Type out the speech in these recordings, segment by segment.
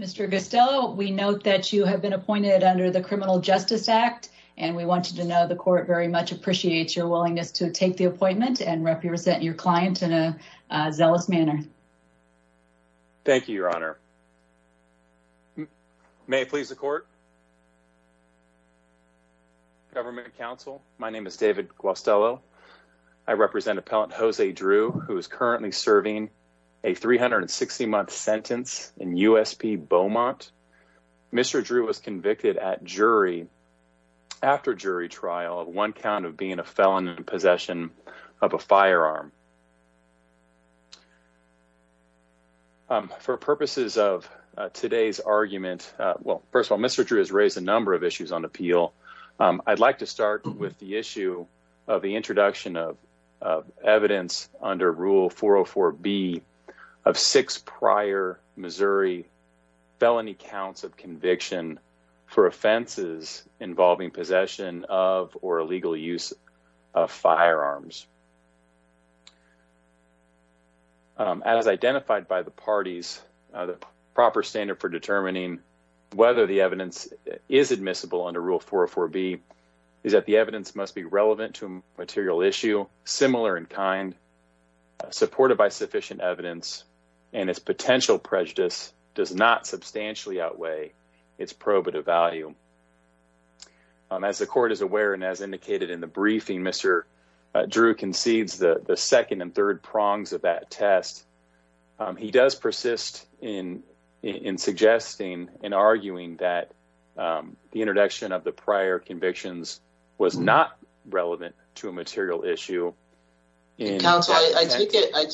Mr. Costello, we note that you have been appointed under the Criminal Justice Act, and we want you to know the court very much appreciates your willingness to take the appointment and represent your client in a zealous manner. Thank you, Your Honor. May it please the court. Government counsel, my name is David Costello. I represent appellant Jose Drew, who is currently serving a 360-month sentence in USP Beaumont. Mr. Drew was convicted at jury after jury trial of one count of being a felon in possession of a firearm. For purposes of today's argument, well, first of all, Mr. Drew has raised a number of issues on appeal. I'd like to start with the issue of the introduction of evidence under Rule 404B of six prior Missouri felony counts of conviction for offenses involving possession of or illegal use of firearms. As identified by the parties, the proper standard for determining whether the evidence is admissible under Rule 404B is that the evidence must be relevant to material issue, similar in kind, supported by sufficient evidence, and its potential prejudice does not substantially outweigh its probative value. As the court is aware, and as indicated in the briefing, Mr. Drew concedes the second and third prongs of that test. He does persist in suggesting and arguing that the introduction of the prior convictions was not relevant to a case. Mr. Drew,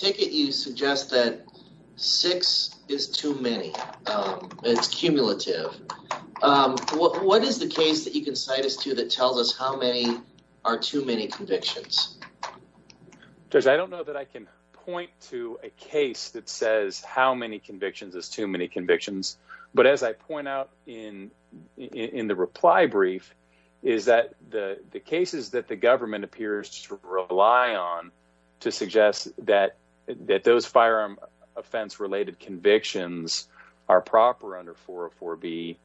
I don't know that I can point to a case that says how many convictions is too many convictions, but as I point out in the reply brief, is that the cases that the government appears to rely on to suggest that those firearm offense-related convictions are proper under 404B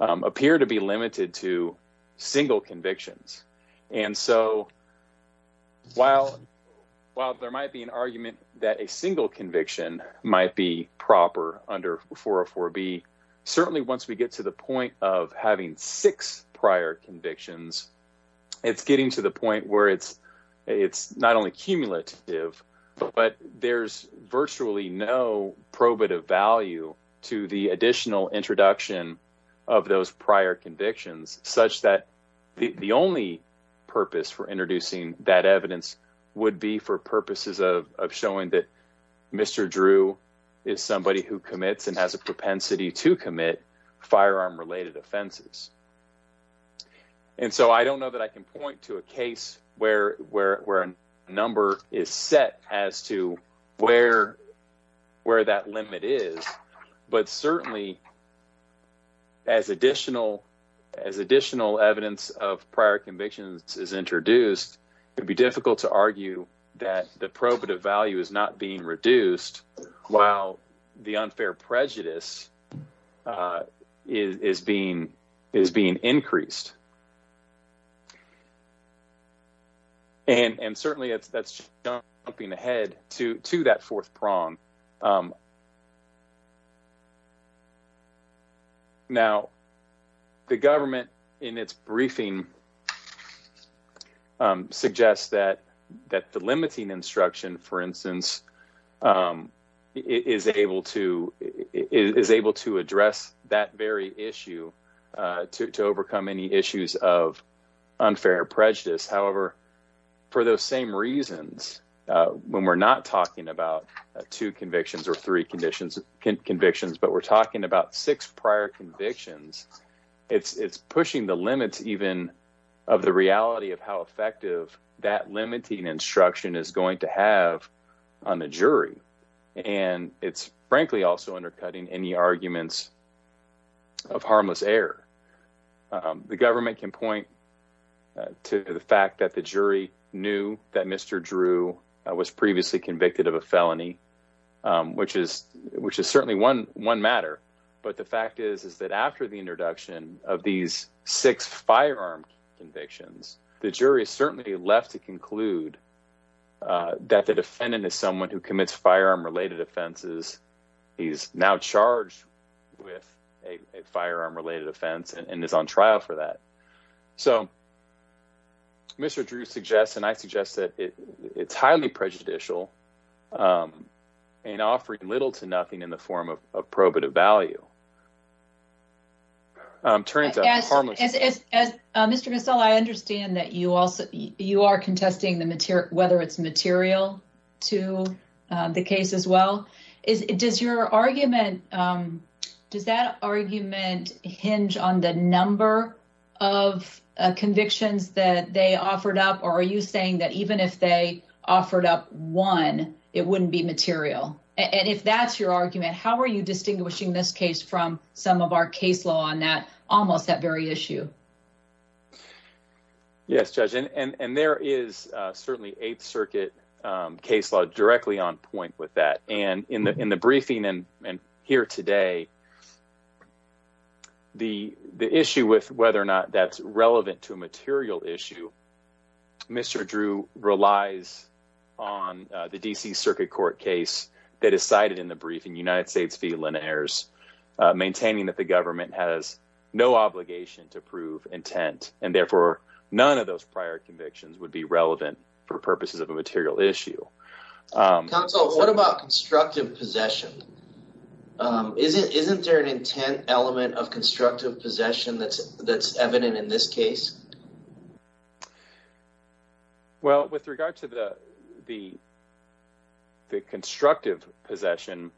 appear to be limited to single convictions. And so while there might be an argument that a single conviction might be proper under 404B, certainly once we get to the point of having six prior convictions, it's getting to the point where it's not only cumulative, but there's virtually no probative value to the additional introduction of those prior convictions, such that the only purpose for introducing that evidence would be for purposes of showing that Mr. Drew is a propensity to commit firearm-related offenses. And so I don't know that I can point to a case where a number is set as to where that limit is, but certainly as additional evidence of prior convictions is introduced, it would be difficult to argue that the probative value is not being reduced while the unfair prejudice is being increased. And certainly that's jumping ahead to that fourth prong. Now, the government in its briefing suggests that the limiting instruction, for instance, is able to address that very issue to overcome any issues of unfair prejudice. However, for those same reasons, when we're not talking about two convictions or three convictions, but we're talking about six prior convictions, it's pushing the limits even of the reality of how effective that limiting instruction is going to have on the jury. And it's frankly also undercutting any arguments of harmless error. The government can point to the fact that the jury knew that Mr. Drew was previously convicted of a felony, which is certainly one matter. But the fact is that after the introduction of these six firearm convictions, the jury is certainly left to conclude that the defendant is someone who commits firearm-related offenses. He's now charged with a firearm-related offense and is on trial for that. So Mr. Drew suggests, and I suggest that it's highly prejudicial and offering little to nothing in the form of probative value. As Mr. Gassell, I understand that you are contesting whether it's material to the case as well. Does your argument, does that argument hinge on the number of convictions that they offered up one, it wouldn't be material? And if that's your argument, how are you distinguishing this case from some of our case law on that, almost that very issue? Yes, Judge, and there is certainly Eighth Circuit case law directly on point with that. And in the briefing and here today, the issue with whether or not that's relevant to a material issue, Mr. Drew relies on the D.C. Circuit Court case that is cited in the briefing, United States v. Linares, maintaining that the government has no obligation to prove intent and therefore none of those prior convictions would be relevant for purposes of a material issue. Counsel, what about constructive possession? Isn't there an intent element of constructive possession that's evident in this case? Well, with regard to the constructive possession.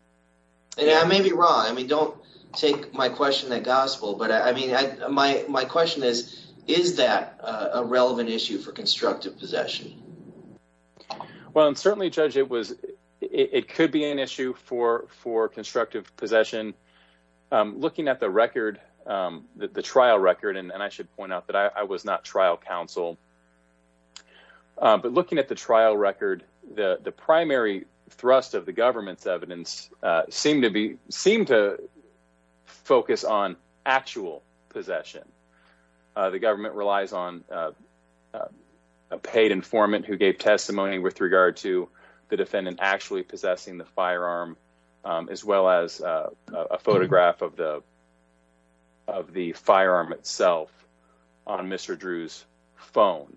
And I may be wrong. I mean, don't take my question at gospel. But I mean, my question is, is that a relevant issue for constructive possession? Well, and certainly, Judge, it was, it could be an issue for constructive possession. Looking at the record, the trial record, and I should point out that I was not trial counsel at the time. But looking at the trial record, the primary thrust of the government's evidence seemed to be seemed to focus on actual possession. The government relies on a paid informant who gave testimony with regard to the defendant actually possessing the firearm, as well as a photograph of the of the firearm itself on Mr. Drew's phone.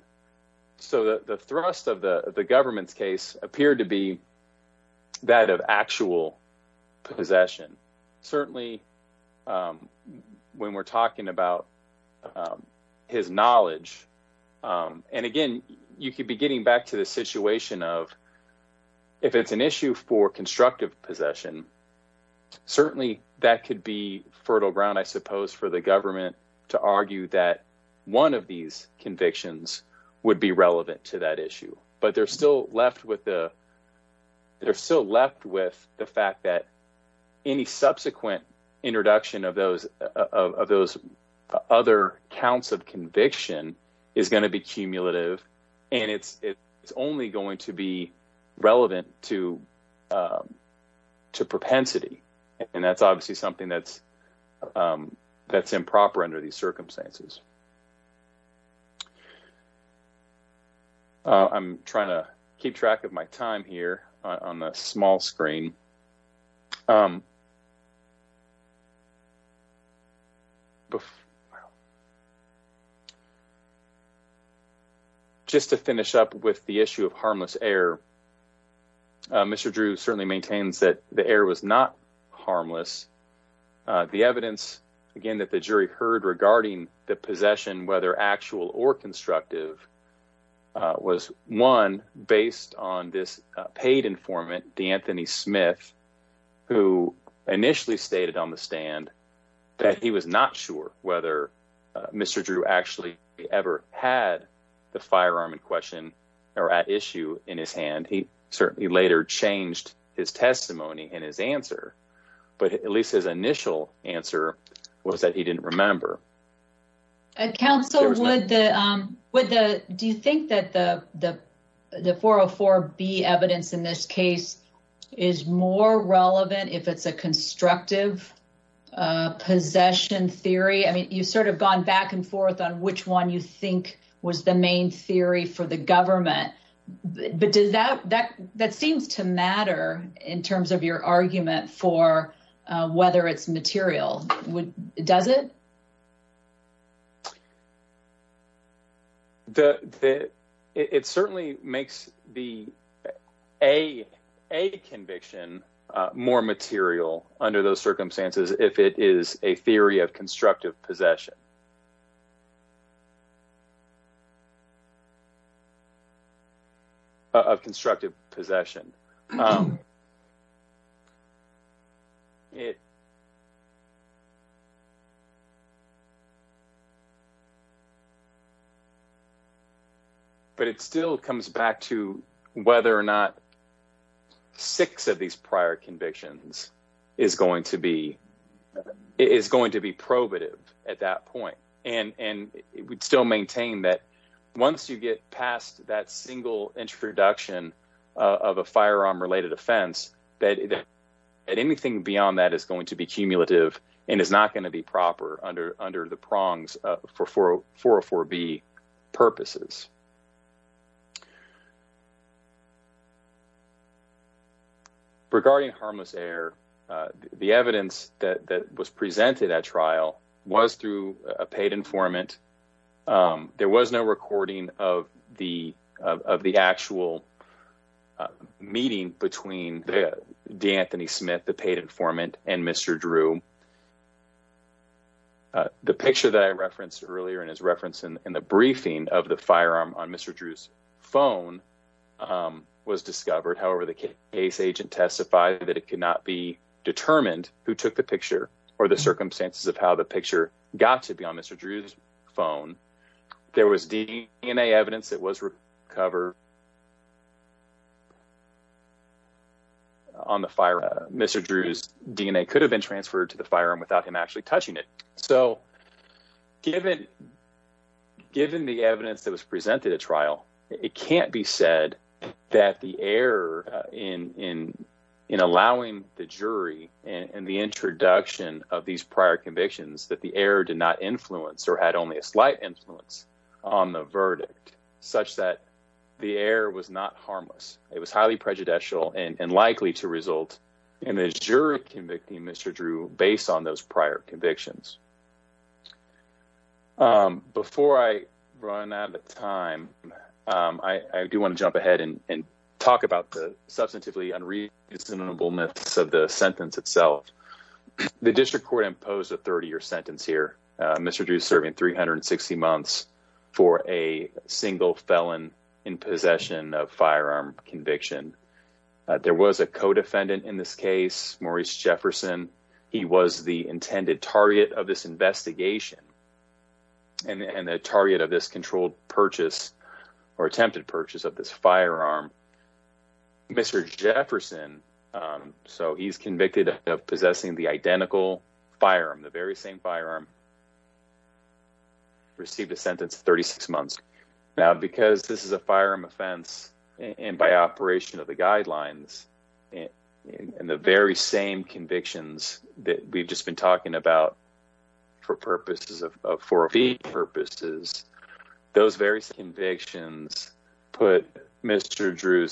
So the thrust of the government's case appeared to be that of actual possession. Certainly, when we're talking about his knowledge, and again, you could be getting back to the situation of if it's an issue for constructive possession. Certainly, that could be fertile ground, I suppose, for the government to argue that one of these convictions would be relevant to that issue. But they're still left with the they're still left with the fact that any subsequent introduction of those of those other counts of conviction is going to be cumulative. And it's only going to be relevant to propensity. And that's obviously something that's improper under these circumstances. I'm trying to keep track of my time here on the small screen. Um, just to finish up with the issue of harmless air, Mr. Drew certainly maintains that the air was not harmless. The evidence again that the jury heard regarding the possession, whether actual or who initially stated on the stand that he was not sure whether Mr. Drew actually ever had the firearm in question, or at issue in his hand, he certainly later changed his testimony and his answer. But at least his initial answer was that he didn't remember. Council would the with the think that the the 404 be evidence in this case is more relevant if it's a constructive possession theory? I mean, you sort of gone back and forth on which one you think was the main theory for the government. But does that that that seems to matter in terms of your argument for whether it's material? Does it? The it certainly makes the a a conviction more material under those circumstances if it is a theory of constructive possession of constructive possession. It but it still comes back to whether or not six of these prior convictions is going to be is going to be probative at that point, and it would still maintain that once you get past that introduction of a firearm related offense that anything beyond that is going to be cumulative and is not going to be proper under under the prongs for 404 B purposes. Regarding harmless air, the evidence that was presented at trial was through a paid informant. There was no recording of the of the actual meeting between the Anthony Smith, the paid informant and Mr Drew. The picture that I referenced earlier in his reference in the briefing of the firearm on Mr Drew's phone was discovered. However, the case agent testified that it could not be determined who took the picture or the circumstances of how the picture got to be on Mr Drew's phone. There was DNA evidence that was recovered. On the fire, Mr Drew's DNA could have been transferred to the firearm without him actually touching it, so given. Given the evidence that was presented at trial, it can't be said that the air in in in allowing the jury and the introduction of these prior convictions that the air did not influence or had only a slight influence on the verdict such that the air was not harmless. It was highly prejudicial and likely to result in his jury convicting Mr Drew based on those prior convictions. Before I run out of time, I do want to jump ahead and talk about the substantively unreasonable of the sentence itself. The district court imposed a 30 year sentence here. Mr Drew's serving 360 months for a single felon in possession of firearm conviction. There was a codefendant in this case, Maurice Jefferson. He was the intended target of this investigation. And the target of this controlled purchase or attempted purchase of this firearm. Mr Jefferson, so he's convicted of possessing the identical firearm, the very same firearm. Received a sentence 36 months now because this is a firearm offense and by operation of the guidelines and the very same convictions that we've just been talking about. For purposes of Drew's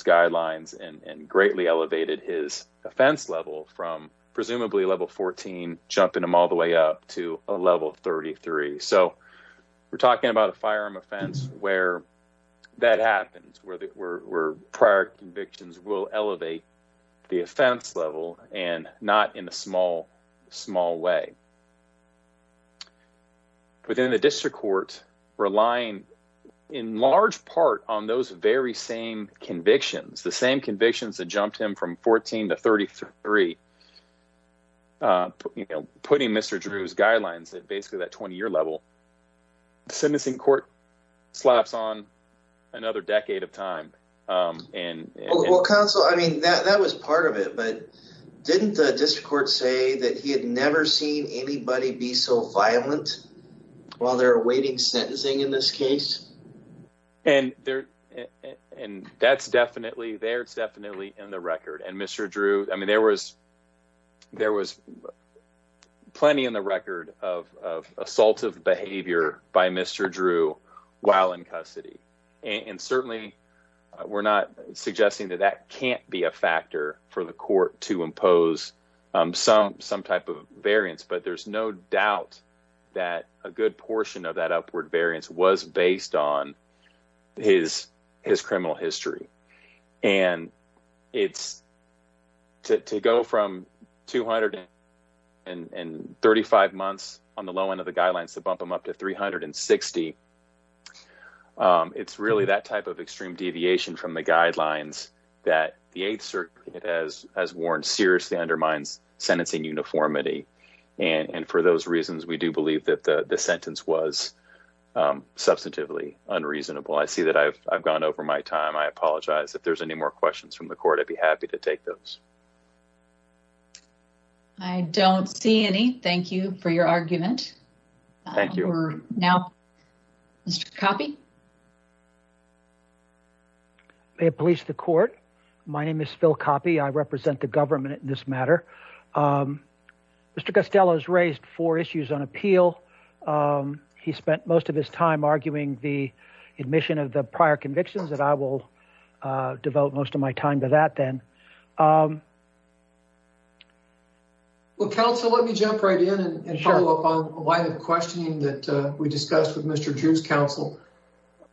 guidelines and greatly elevated his offense level from presumably level 14, jumping them all the way up to a level 33. So we're talking about a firearm offense where that happens, where prior convictions will elevate the offense level and not in a small, small way. Within the district court, relying in large part on those very same convictions, the same convictions that jumped him from 14 to 33. You know, putting Mr Drew's guidelines at basically that 20 year level. Sentencing court slaps on another decade of time and counsel. I mean, that was part of it, but didn't the district court say that he had never seen anybody be so violent while they're awaiting sentencing in this case? And that's definitely there. It's definitely in the record. And Mr Drew, I mean, there was plenty in the record of assaultive behavior by Mr Drew while in custody. And certainly we're not suggesting that that can't be a factor for the court to impose some type of variance. But there's no doubt that a good portion of that upward variance was based on his criminal history. And it's to go from 235 months on the low end of the guidelines to bump them up to 360. It's really that type of extreme deviation from the guidelines that the 8th Circuit has warned seriously undermines sentencing uniformity. And for those reasons, we do believe that the sentence was substantively unreasonable. I see that I've gone over my time. I apologize. If there's any more questions from the court, I'd be happy to take those. I don't see any. Thank you for your argument. Thank you. Now, Mr. Coppi. May it please the court. My name is Phil Coppi. I represent the government in this matter. Mr. Costello has raised four issues on appeal. He spent most of his time arguing the admission of the prior convictions that I will devote most of my time to that then. Well, counsel, let me jump right in and follow up on a line of questioning that we discussed with Mr. Drew's counsel.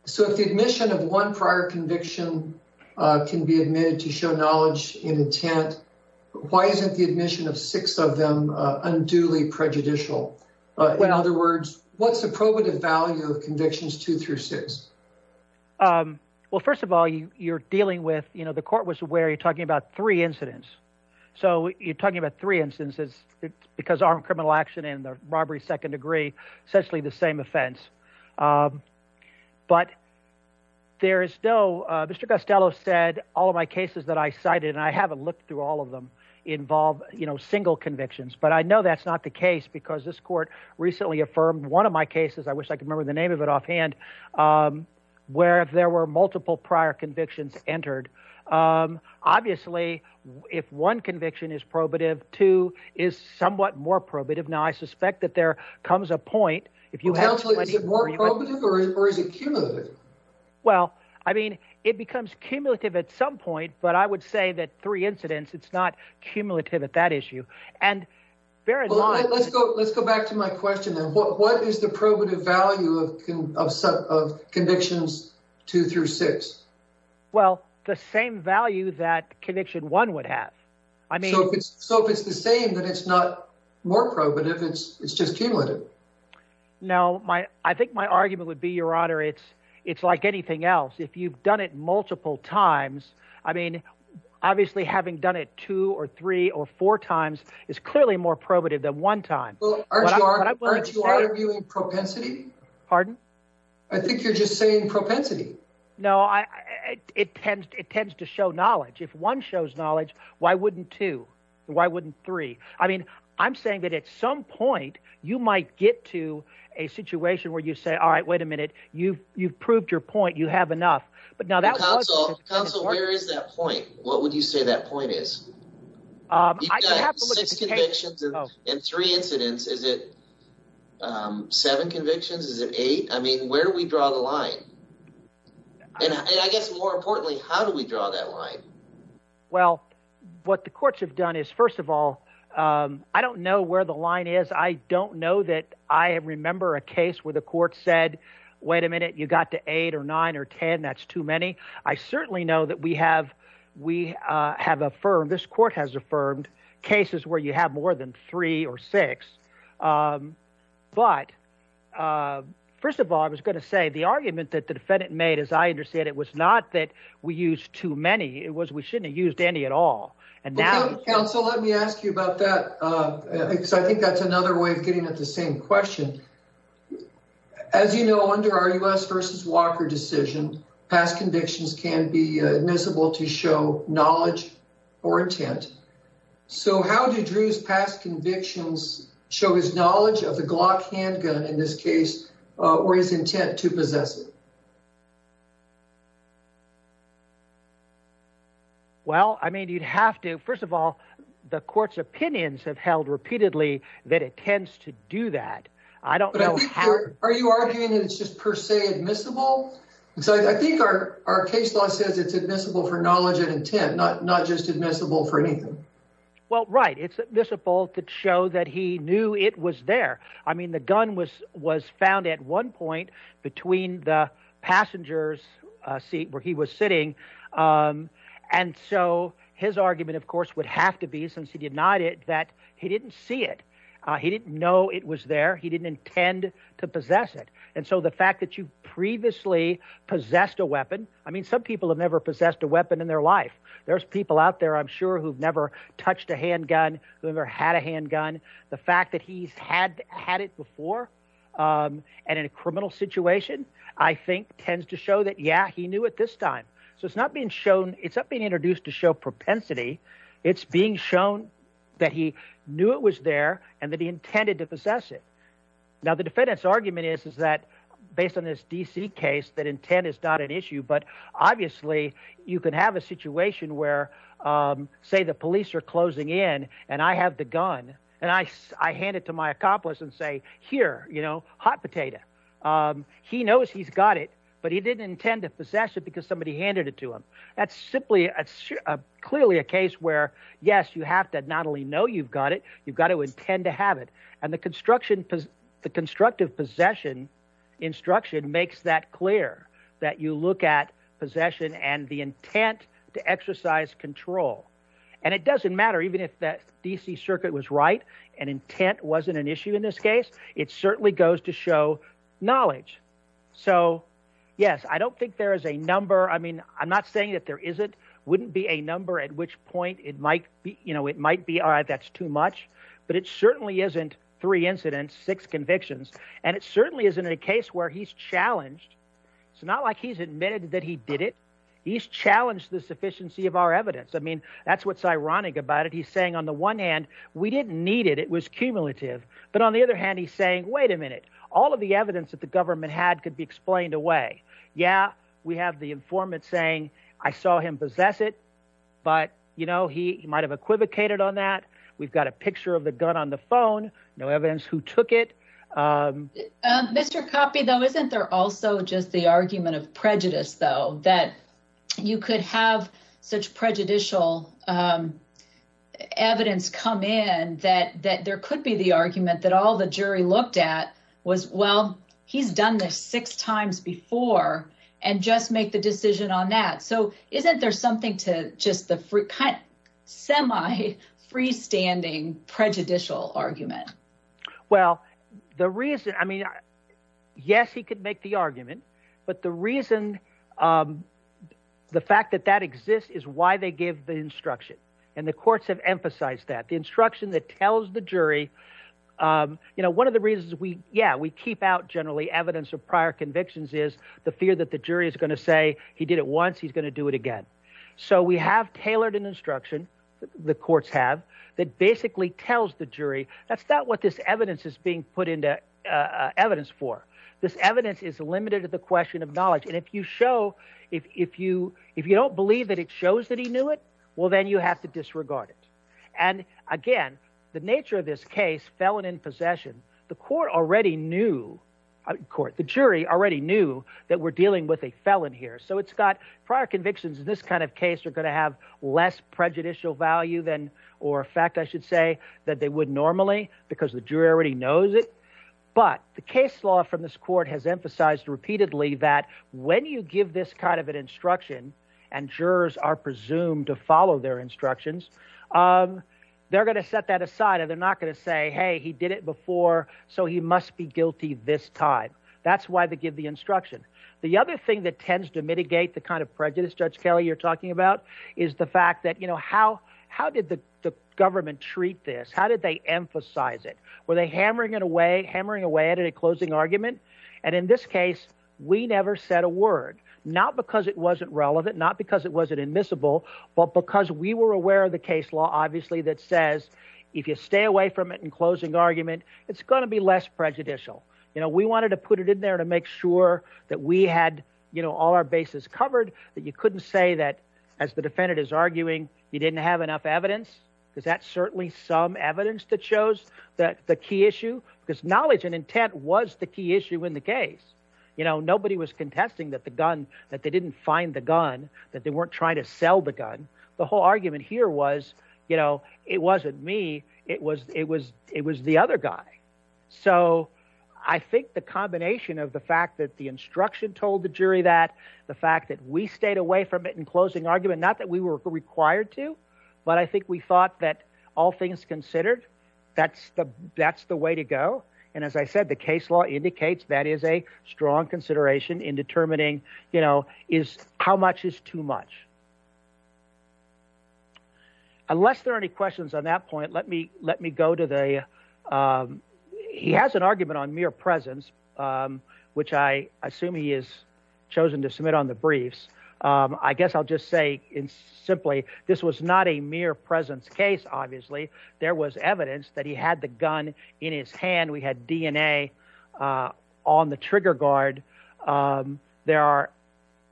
So if the admission of one prior conviction can be admitted to show knowledge in intent, why isn't the admission of six of them unduly prejudicial? In other words, what's the probative value of convictions two through six? Um, well, first of all, you're dealing with, you know, the court was where you're talking about three incidents. So you're talking about three instances because armed criminal action and the robbery, second degree, essentially the same offense. Um, but there is no, uh, Mr. Costello said all of my cases that I cited and I haven't looked through all of them involve, you know, single convictions, but I know that's not the case because this court recently affirmed one of my cases. I wish I could remember the name of it offhand. Um, where if there were multiple prior convictions entered, um, obviously if one conviction is probative, two is somewhat more probative. Now I suspect that there comes a point if you have more probative or is it cumulative? Well, I mean, it becomes cumulative at some point, but I would say that three incidents, it's not cumulative at that issue and very long. Let's go, let's go back to my question then. What is the probative value of set of convictions two through six? Well, the same value that conviction one would have. I mean, so if it's the same, but it's not more probative, it's, it's just cumulative. No, my, I think my argument would be your honor. It's, it's like anything else. If you've done it multiple times, I mean, obviously having done it two or three or four times is clearly more than one time. Pardon? I think you're just saying propensity. No, I, it tends, it tends to show knowledge. If one shows knowledge, why wouldn't two? Why wouldn't three? I mean, I'm saying that at some point you might get to a situation where you say, all right, wait a minute. You've, you've proved your point. You have enough, but now that was that point. What would you say that point is in three incidents? Is it seven convictions? Is it eight? I mean, where do we draw the line? And I guess more importantly, how do we draw that line? Well, what the courts have done is first of all I don't know where the line is. I don't know that I remember a case where the court said, wait a minute, you got to eight or nine or 10. That's too many. I certainly know that we have, we have affirmed, this court has affirmed cases where you have more than three or six. But first of all, I was going to say the argument that the defendant made, as I understand, it was not that we use too many. It was, we shouldn't have used any at all. And now counsel, let me ask you about that. Because I think that's another way of getting at the same question. As you know, under our U.S. versus Walker decision, past convictions can be admissible to show knowledge or intent. So how did Drew's past convictions show his knowledge of the Glock handgun in this case or his intent to possess it? Well, I mean, you'd have to, first of all, the court's opinions have held repeatedly that it tends to do that. I don't know. Are you arguing that it's just per se admissible? I think our case law says it's admissible for knowledge and intent, not just admissible for anything. Well, right. It's admissible to show that he knew it was there. I mean, the gun was found at one point between the passenger's seat where he was sitting. And so his argument, of course, would have to be, since he denied it, that he didn't see it. He didn't know it was there. He didn't intend to possess it. And so the fact that you previously possessed a weapon, I mean, some people have never possessed a weapon in their life. There's people out there, I'm sure, who've never touched a handgun, who ever had a handgun. The fact that he's had had it before and in a criminal situation, I think, tends to show that, yeah, he knew it this time. So it's not being shown, it's not being introduced to show propensity. It's being shown that he knew it was there and that he intended to possess it. Now, the defendant's argument is, is that based on this D.C. case, that intent is not an issue. But obviously, you could have a situation where, say, the police are closing in and I have the gun and I hand it to my accomplice and say, here, you know, potato. He knows he's got it, but he didn't intend to possess it because somebody handed it to him. That's simply clearly a case where, yes, you have to not only know you've got it, you've got to intend to have it. And the construction, the constructive possession instruction makes that clear, that you look at possession and the intent to exercise control. And it doesn't matter even if that D.C. circuit was right and intent wasn't an issue in this case. It certainly goes to show knowledge. So, yes, I don't think there is a number. I mean, I'm not saying that there isn't wouldn't be a number at which point it might be. You know, it might be all right. That's too much. But it certainly isn't three incidents, six convictions. And it certainly isn't a case where he's challenged. It's not like he's admitted that he did it. He's challenged the sufficiency of our evidence. I mean, that's what's ironic about it. He's saying on the one hand, we didn't need it. It was cumulative. But on the other hand, he's saying, wait a minute, all of the evidence that the government had could be explained away. Yeah, we have the informant saying I saw him possess it. But, you know, he might have equivocated on that. We've got a picture of the gun on the phone. No evidence who took it. Mr. Coppi, though, isn't there also just the argument of prejudice, though, that you could have such prejudicial evidence come in that that there could be the argument that all the jury looked at was, well, he's done this six times before and just make the decision on that. So isn't there something to just the kind of semi freestanding prejudicial argument? Well, the reason I mean, yes, he could make the courts have emphasized that the instruction that tells the jury, you know, one of the reasons we yeah, we keep out generally evidence of prior convictions is the fear that the jury is going to say he did it once. He's going to do it again. So we have tailored an instruction. The courts have that basically tells the jury that's not what this evidence is being put into evidence for. This evidence is limited to the question of knowledge. And if you show if you if you don't believe that it shows that he knew it, well, then you have to disregard it. And again, the nature of this case felon in possession. The court already knew court the jury already knew that we're dealing with a felon here. So it's got prior convictions in this kind of case are going to have less prejudicial value than or a fact, I should say, that they would normally because the jury already knows it. But the case law from this court has emphasized repeatedly that when you give this kind of an instruction and jurors are presumed to follow their instructions, they're going to set that aside and they're not going to say, hey, he did it before. So he must be guilty this time. That's why they give the instruction. The other thing that tends to mitigate the kind of prejudice, Judge Kelly, you're talking about is the fact that, you know, how how did the government treat this? How did they emphasize it? Were they hammering it away, hammering away at a closing argument? And in this case, we never said a word, not because it wasn't relevant, not because it wasn't admissible, but because we were aware of the case law, obviously, that says if you stay away from it and closing argument, it's going to be less prejudicial. You know, we wanted to put it in there to make sure that we had all our bases covered, that you couldn't say that as the evidence that shows that the key issue, because knowledge and intent was the key issue in the case. You know, nobody was contesting that the gun that they didn't find the gun, that they weren't trying to sell the gun. The whole argument here was, you know, it wasn't me. It was it was it was the other guy. So I think the combination of the fact that the instruction told the jury that the fact that we stayed away from it and closing argument, not that we were required to, but I think we thought that all things considered, that's the that's the way to go. And as I said, the case law indicates that is a strong consideration in determining, you know, is how much is too much. Unless there are any questions on that point, let me let me go to the he has an argument on mere presence, which I assume he is chosen to submit on the briefs. I guess I'll just say simply, this was not a mere presence case. Obviously, there was evidence that he had the gun in his hand. We had DNA on the trigger guard. There are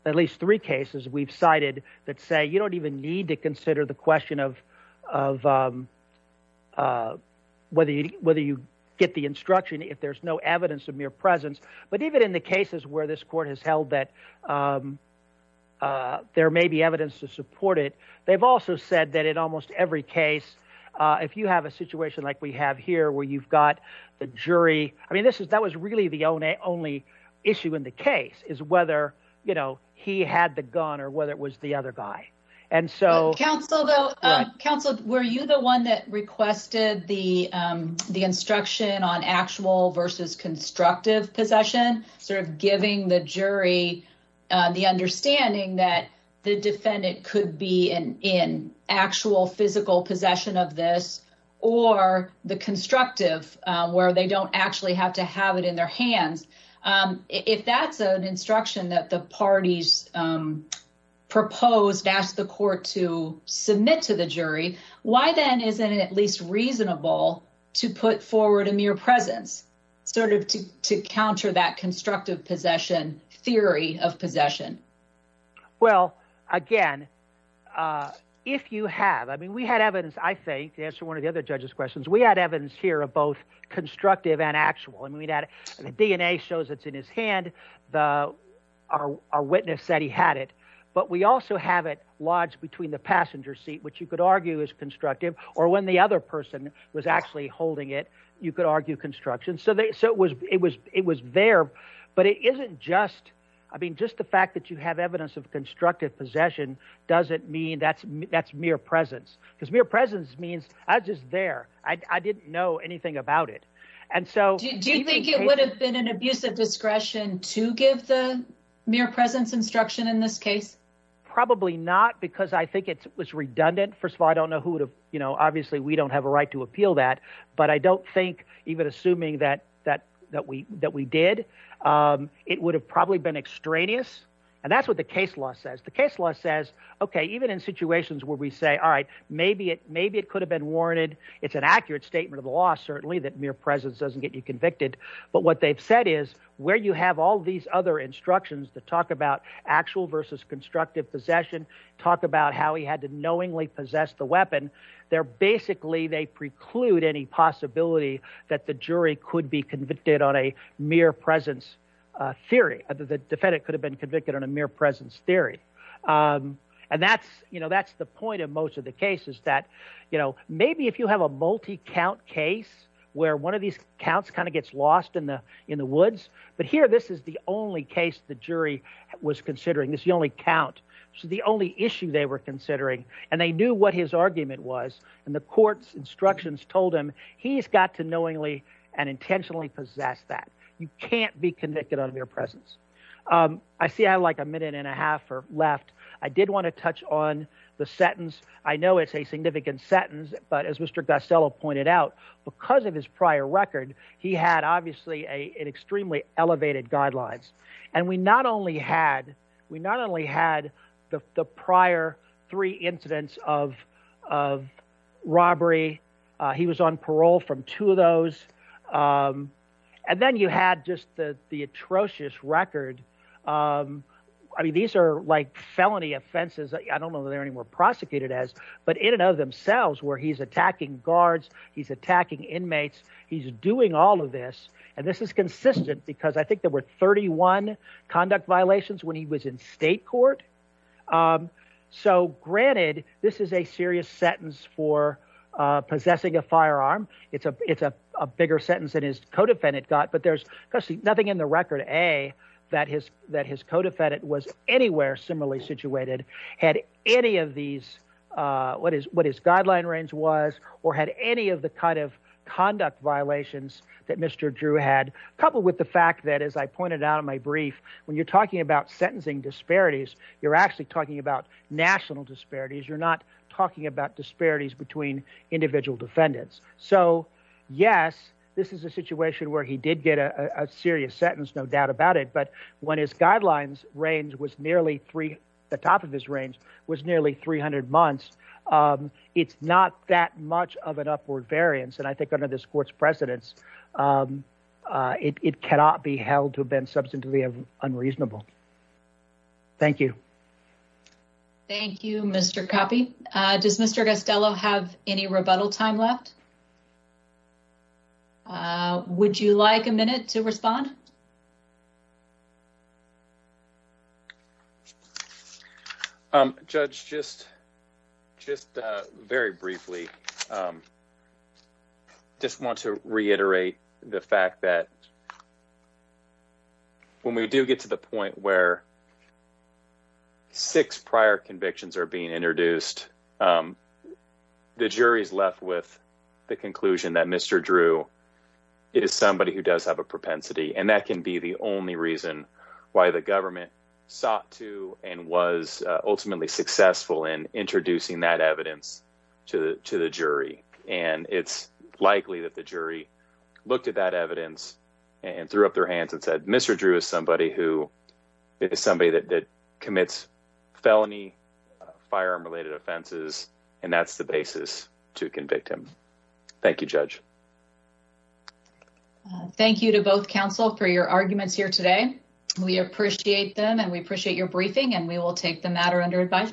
at least three cases we've cited that say you don't even need to consider the question of of whether whether you get the instruction if there's no evidence of mere presence. But even in the cases where this court has held that there may be evidence to support it, they've also said that in almost every case, if you have a situation like we have here where you've got the jury, I mean, this is that was really the only only issue in the case is whether, you know, he had the gun or whether it was the other guy. And so counsel, though, counsel, were you the one that requested the the instruction on actual versus constructive possession, sort of giving the jury the understanding that the defendant could be in actual physical possession of this or the constructive where they don't actually have to have it in their hands. If that's an instruction that the parties proposed, that's the court to submit to the jury. Why then isn't it at least reasonable to put forward a mere presence sort of to to counter that constructive possession theory of possession? Well, again, if you have I mean, we had evidence, I think, to answer one of the other judges questions. We had evidence here of both constructive and actual. I mean, that DNA shows it's in his hand. The our witness said he had it, but we also have it lodged between the actually holding it. You could argue construction. So so it was it was it was there. But it isn't just I mean, just the fact that you have evidence of constructive possession doesn't mean that's that's mere presence because mere presence means I was just there. I didn't know anything about it. And so do you think it would have been an abuse of discretion to give the mere presence instruction in this case? Probably not, because I think it was redundant. First of all, I don't know who would have. You know, obviously, we don't have a right to appeal that. But I don't think even assuming that that that we that we did, it would have probably been extraneous. And that's what the case law says. The case law says, OK, even in situations where we say, all right, maybe it maybe it could have been warranted. It's an accurate statement of the law, certainly, that mere presence doesn't get you convicted. But what they've said is where you have all these other instructions to talk about actual versus constructive possession, talk about how he had to knowingly possess the weapon there. Basically, they preclude any possibility that the jury could be convicted on a mere presence theory. The defendant could have been convicted on a mere presence theory. And that's you know, that's the point of most of the cases that, you know, maybe if you have a multi count case where one of these counts kind of gets lost in the in the woods. But here, this is the only case the jury was considering is the only count. So the only issue they were And that's what his argument was. And the court's instructions told him he's got to knowingly and intentionally possess that you can't be convicted on mere presence. I see I like a minute and a half or left. I did want to touch on the sentence. I know it's a significant sentence. But as Mr. Gassel pointed out, because of his prior record, he had obviously an extremely elevated guidelines. And we not only had we not only had the prior three incidents of robbery, he was on parole from two of those. And then you had just the atrocious record. I mean, these are like felony offenses. I don't know that they're anymore prosecuted as but in and of themselves where he's attacking guards, he's attacking inmates. He's doing all And this is consistent because I think there were 31 conduct violations when he was in state court. So granted, this is a serious sentence for possessing a firearm. It's a it's a bigger sentence that his co-defendant got. But there's nothing in the record, a that his that his co-defendant was anywhere similarly situated, had any of these what is what his guideline range was or had any of the kind of conduct violations that Mr. Drew had, coupled with the fact that, as I pointed out in my brief, when you're talking about sentencing disparities, you're actually talking about national disparities. You're not talking about disparities between individual defendants. So, yes, this is a situation where he did get a serious sentence, no doubt about it. But when his guidelines range was nearly three, the top of his range was nearly 300 months. It's not that much of an upward variance. And I think under this court's precedence, it cannot be held to have been substantively unreasonable. Thank you. Thank you, Mr. Cappi. Does Mr. Gastello have any rebuttal time left? Um, Judge, just just very briefly, um, just want to reiterate the fact that when we do get to the point where six prior convictions are being introduced, the jury's left with the conclusion that Mr. Drew, it is somebody who does have a propensity, and that can be the only reason why the government sought to and was ultimately successful in introducing that evidence to the jury. And it's likely that the jury looked at that evidence and threw up their hands and said, Mr. Drew is somebody who is somebody that commits felony firearm related offenses. And that's the basis to convict him. Thank you, Judge. Thank you to both counsel for your arguments here today. We appreciate them and we appreciate your briefing and we will take the matter under advisement.